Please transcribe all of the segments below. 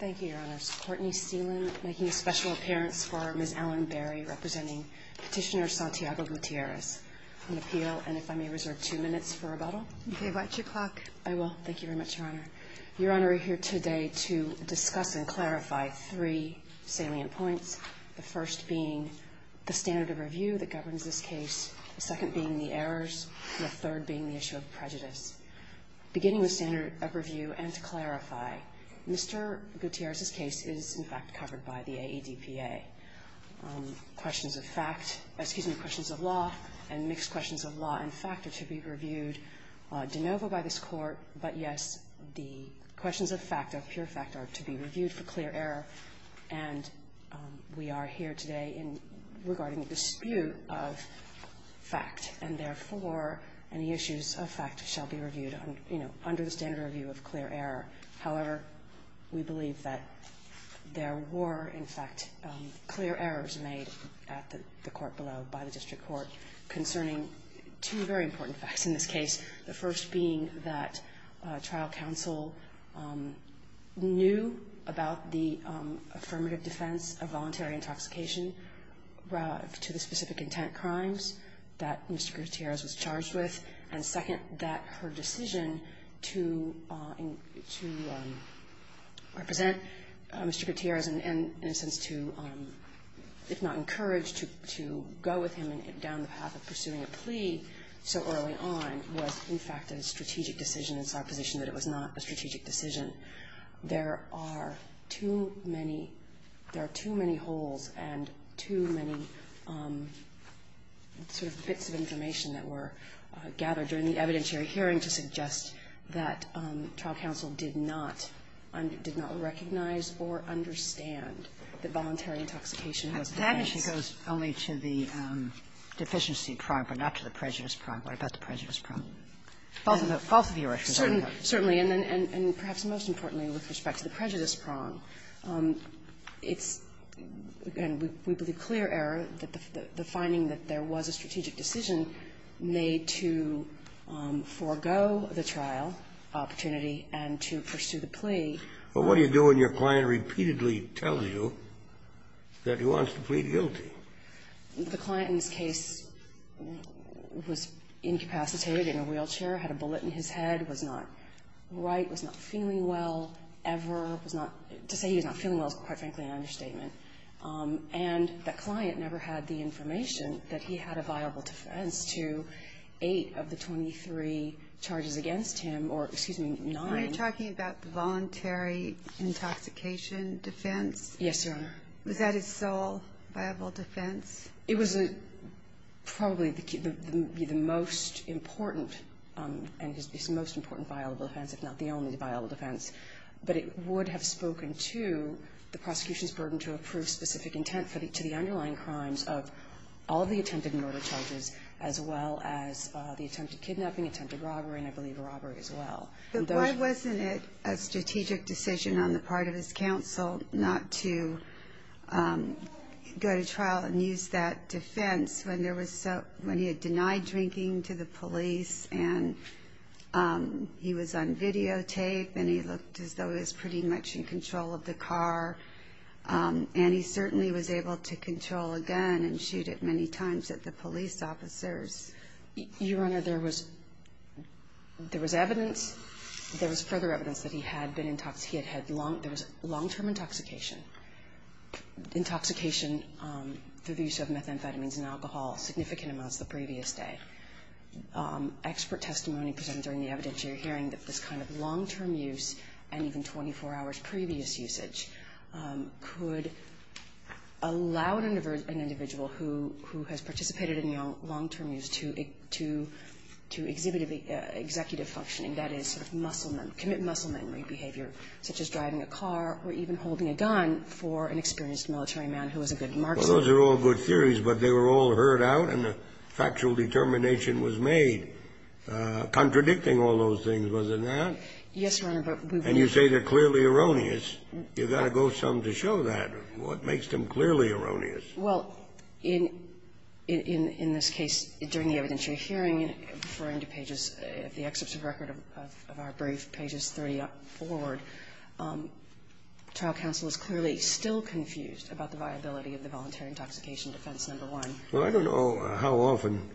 Thank you, Your Honors. Courtney Stelan making a special appearance for Ms. Ellen Berry, representing Petitioner Santiago Gutierrez on appeal, and if I may reserve two minutes for rebuttal. Okay, watch your clock. I will. Thank you very much, Your Honor. Your Honor, we're here today to discuss and clarify three salient points, the first being the standard of review that governs this case, the second being the errors, and the third being the issue of prejudice. Beginning with standard of review and to clarify, Mr. Gutierrez's case is, in fact, covered by the AEDPA. Questions of fact, excuse me, questions of law and mixed questions of law and fact are to be reviewed de novo by this Court, but yes, the questions of fact, of pure fact, are to be reviewed for clear error. And we are here today regarding a dispute of fact, and therefore, any issues of fact shall be reviewed, you know, under the standard of review of clear error. However, we believe that there were, in fact, clear errors made at the court below by the district court concerning two very important facts in this case. The first being that trial counsel knew about the affirmative defense of voluntary intoxication to the specific intent crimes that Mr. Gutierrez was charged with, and second, that her decision to represent Mr. Gutierrez and, in a sense, to, if not encourage, to go with him down the path of pursuing a plea so early on, was, in fact, incorrect. In fact, a strategic decision, it's our position that it was not a strategic decision. There are too many holes and too many sort of bits of information that were gathered during the evidentiary hearing to suggest that trial counsel did not recognize or understand that voluntary intoxication was a defense. Kagan, it actually goes only to the deficiency prong, but not to the prejudice prong. What about the prejudice prong? Both of your issues are in there. Certainly. And perhaps most importantly with respect to the prejudice prong, it's, again, we believe clear error that the finding that there was a strategic decision made to forego the trial opportunity and to pursue the plea. But what do you do when your client repeatedly tells you that he wants to plead guilty? The client in this case was incapacitated in a wheelchair, had a bullet in his head, was not right, was not feeling well ever, was not, to say he was not feeling well is, quite frankly, an understatement. And that client never had the information that he had a viable defense to eight of the 23 charges against him or, excuse me, nine. When you're talking about the voluntary intoxication defense, was that his sole viable defense? It was probably the most important and his most important viable defense, if not the only viable defense. But it would have spoken to the prosecution's burden to approve specific intent to the underlying crimes of all the attempted murder charges, as well as the attempted kidnapping, attempted robbery, and I believe robbery as well. But why wasn't it a strategic decision on the part of his counsel not to go to trial and use that defense when there was so, when he had denied drinking to the police and he was on videotape and he looked as though he was pretty much in control of the car and he certainly was able to control a gun and shoot it many times at the police officers? Your Honor, there was, there was evidence, there was further evidence that he had been intox, he had had long, there was long-term intoxication, intoxication through the use of methamphetamines and alcohol, significant amounts the previous day. Expert testimony presented during the evidentiary hearing that this kind of long-term use and even 24 hours previous usage could allow an individual who has participated in the long-term use to exhibit executive functioning, that is sort of muscle memory, commit muscle memory behavior, such as driving a car or even holding a gun for an experienced military man who was a good marksman. Well, those are all good theories, but they were all heard out and a factual determination was made contradicting all those things, wasn't that? Yes, Your Honor, but we've been able to do that. And you say they're clearly erroneous. You've got to go some to show that. What makes them clearly erroneous? Well, in, in, in this case, during the evidentiary hearing, referring to pages, the excerpts of record of our brief, pages 30 forward, trial counsel is clearly still confused about the viability of the voluntary intoxication defense number one. Well, I don't know how often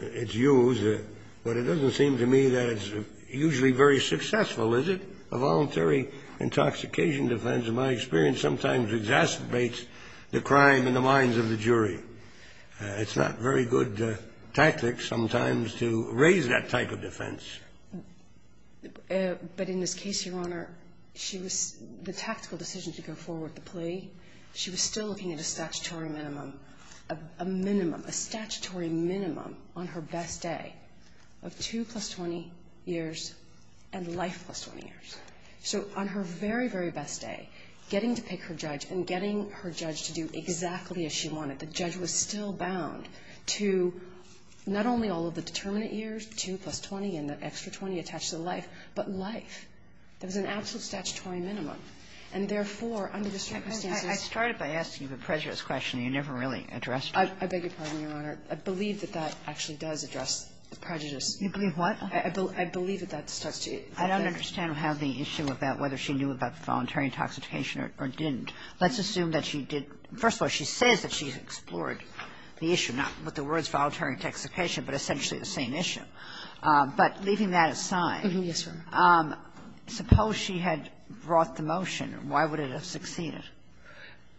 it's used, but it doesn't seem to me that it's usually very successful, is it? A voluntary intoxication defense, in my experience, sometimes exacerbates the crime in the minds of the jury. It's not very good tactic sometimes to raise that type of defense. But in this case, Your Honor, she was, the tactical decision to go forward with the plea, she was still looking at a statutory minimum, a minimum, a statutory minimum on her best day of 2 plus 20 years and life plus 20 years. So on her very, very best day, getting to pick her judge and getting her judge to do exactly as she wanted, the judge was still bound to not only all of the determinant years, 2 plus 20, and the extra 20 attached to the life, but life. There was an absolute statutory minimum. And therefore, under the circumstances — I started by asking you the prejudice question. You never really addressed it. I beg your pardon, Your Honor. I believe that that actually does address the prejudice. You believe what? I believe that that starts to — I don't understand how the issue about whether she knew about the voluntary intoxication or didn't. Let's assume that she did — first of all, she says that she's explored the issue, not with the words voluntary intoxication, but essentially the same issue. But leaving that aside — Yes, Your Honor. Suppose she had brought the motion. Why would it have succeeded?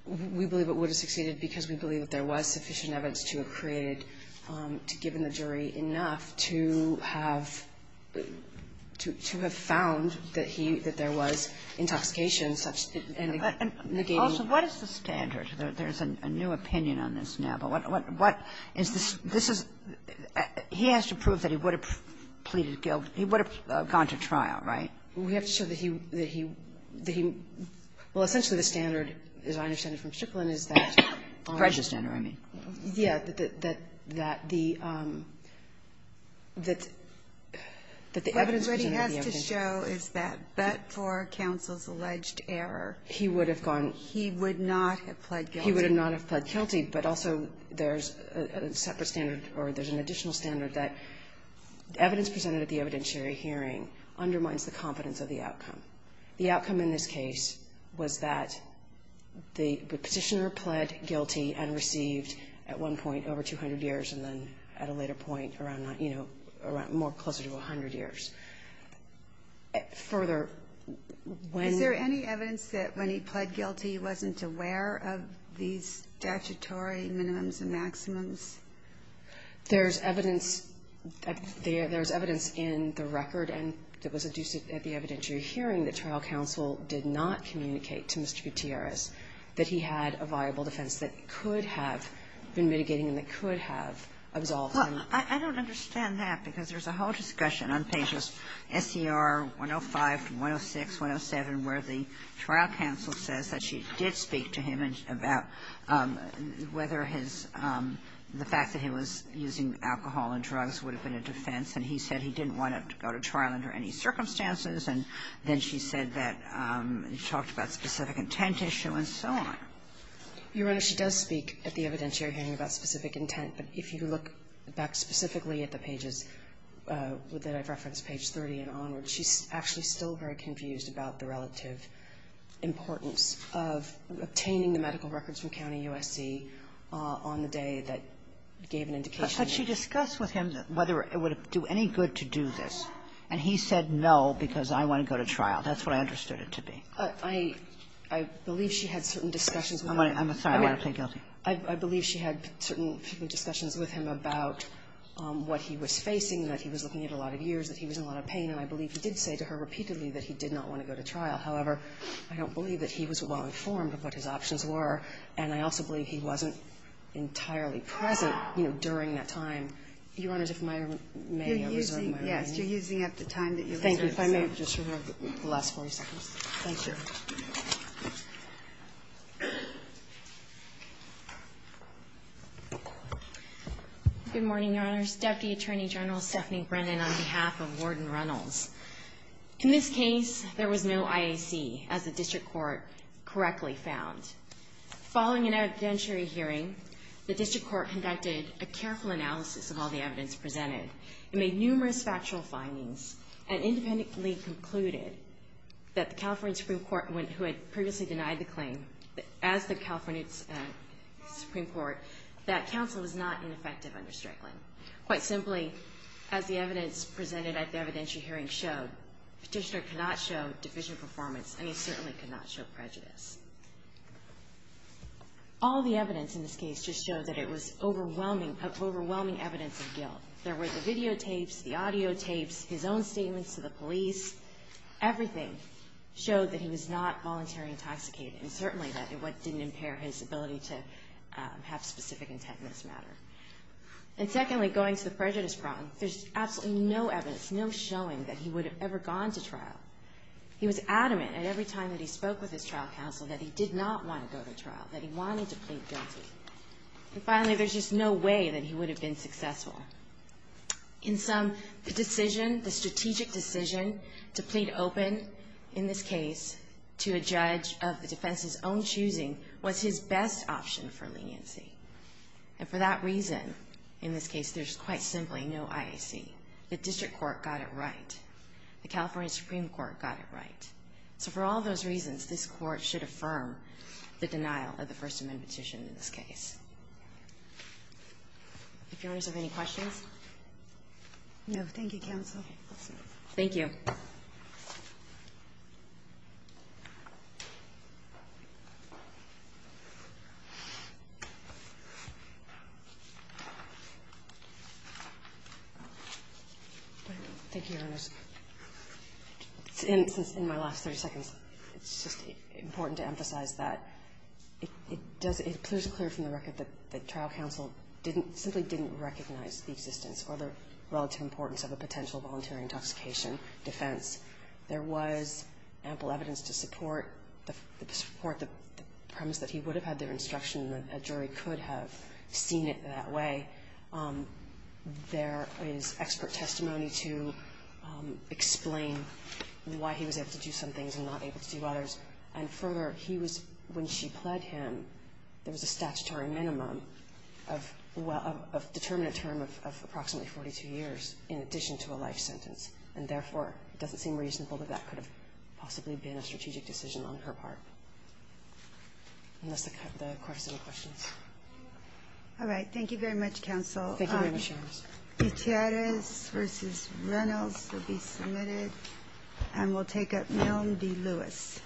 We believe it would have succeeded because we believe that there was sufficient evidence to have created, to have given the jury enough to have found that he — that there was intoxication such as — And also, what is the standard? There's a new opinion on this now, but what — what is this — this is — he has to prove that he would have pleaded guilty. He would have gone to trial, right? We have to show that he — that he — that he — well, essentially the standard, as I understand it from Strickland, is that — Prejudice standard, I mean. Yeah, that — that the — that the evidence presented at the evidence — What he has to show is that but for counsel's alleged error, he would have gone — He would not have pled guilty. He would not have pled guilty, but also there's a separate standard or there's an additional standard that evidence presented at the evidentiary hearing undermines the confidence of the outcome. The outcome in this case was that the petitioner pled guilty and received at one point over 200 years and then at a later point around, you know, around — more closer to 100 years. Further, when — Is there any evidence that when he pled guilty, he wasn't aware of these statutory minimums and maximums? There's evidence — there's evidence in the record and that was adduced at the evidentiary hearing that trial counsel did not communicate to Mr. Gutierrez that he had a viable defense that could have been mitigating and that could have absolved him. Well, I don't understand that because there's a whole discussion on pages SER 105 to 106, 107, where the trial counsel says that she did speak to him about whether his — the fact that he was using alcohol and drugs would have been a defense and he said he didn't want to go to trial under any circumstances and then she said that he talked about specific intent issue and so on. Your Honor, she does speak at the evidentiary hearing about specific intent, but if you look back specifically at the pages that I've referenced, page 30 and onward, she's actually still very confused about the relative importance of obtaining the medical records from County USC on the day that gave an indication that — But she discussed with him whether it would do any good to do this, and he said no because I want to go to trial. That's what I understood it to be. I — I believe she had certain discussions with him. I'm sorry. I'm going to plead guilty. I believe she had certain discussions with him about what he was facing, that he was looking at a lot of years, that he was in a lot of pain. And I believe he did say to her repeatedly that he did not want to go to trial. However, I don't believe that he was well-informed of what his options were, and I also believe he wasn't entirely present, you know, during that time. Your Honor, if my — may I reserve my remaining time? You're using — yes, you're using up the time that you reserved. Thank you. If I may, just for the last 40 seconds. Thank you. Good morning, Your Honors. Deputy Attorney General Stephanie Brennan on behalf of Warden Reynolds. In this case, there was no IAC, as the district court correctly found. Following an evidentiary hearing, the district court conducted a careful analysis of all the evidence presented. It made numerous factual findings and independently concluded that the California Supreme Court, who had previously denied the claim, that as the California Supreme Court, that counsel was not ineffective under Strickland. Quite simply, as the evidence presented at the evidentiary hearing showed, petitioner cannot show deficient performance, and he certainly cannot show prejudice. All the evidence in this case just showed that it was overwhelming — of overwhelming evidence of guilt. There were the videotapes, the audiotapes, his own statements to the police. Everything showed that he was not voluntarily intoxicated, and certainly that — what didn't impair his ability to have specific intent in this matter. And secondly, going to the prejudice front, there's absolutely no evidence, no showing that he would have ever gone to trial. He was adamant at every time that he spoke with his trial counsel that he did not want to go to trial, that he wanted to plead guilty. And finally, there's just no way that he would have been successful. In sum, the decision, the strategic decision to plead open in this case to a judge of the defense's own choosing was his best option for leniency. And for that reason, in this case, there's quite simply no IAC. The district court got it right. The California Supreme Court got it right. So for all those reasons, this Court should affirm the denial of the First Amendment petition in this case. If Your Honors have any questions? No. Thank you, counsel. Thank you. Thank you, Your Honors. In my last 30 seconds, it's just important to emphasize that it does — it appears clear from the record that the trial counsel didn't — simply didn't recognize the existence or the relative importance of a potential volunteer intoxication defense. There was ample evidence to support the premise that he would have had their instruction, that a jury could have seen it that way. There is expert testimony to explain why he was able to do some things and not able to do others. And further, he was — when she pled him, there was a statutory minimum of — well, of a determinate term of approximately 42 years in addition to a life sentence. And therefore, it doesn't seem reasonable that that could have possibly been a strategic decision on her part. And that's the question. All right. Thank you very much, counsel. Thank you very much, Your Honors. Dichiaris v. Reynolds will be submitted, and we'll take up Milne v. Lewis.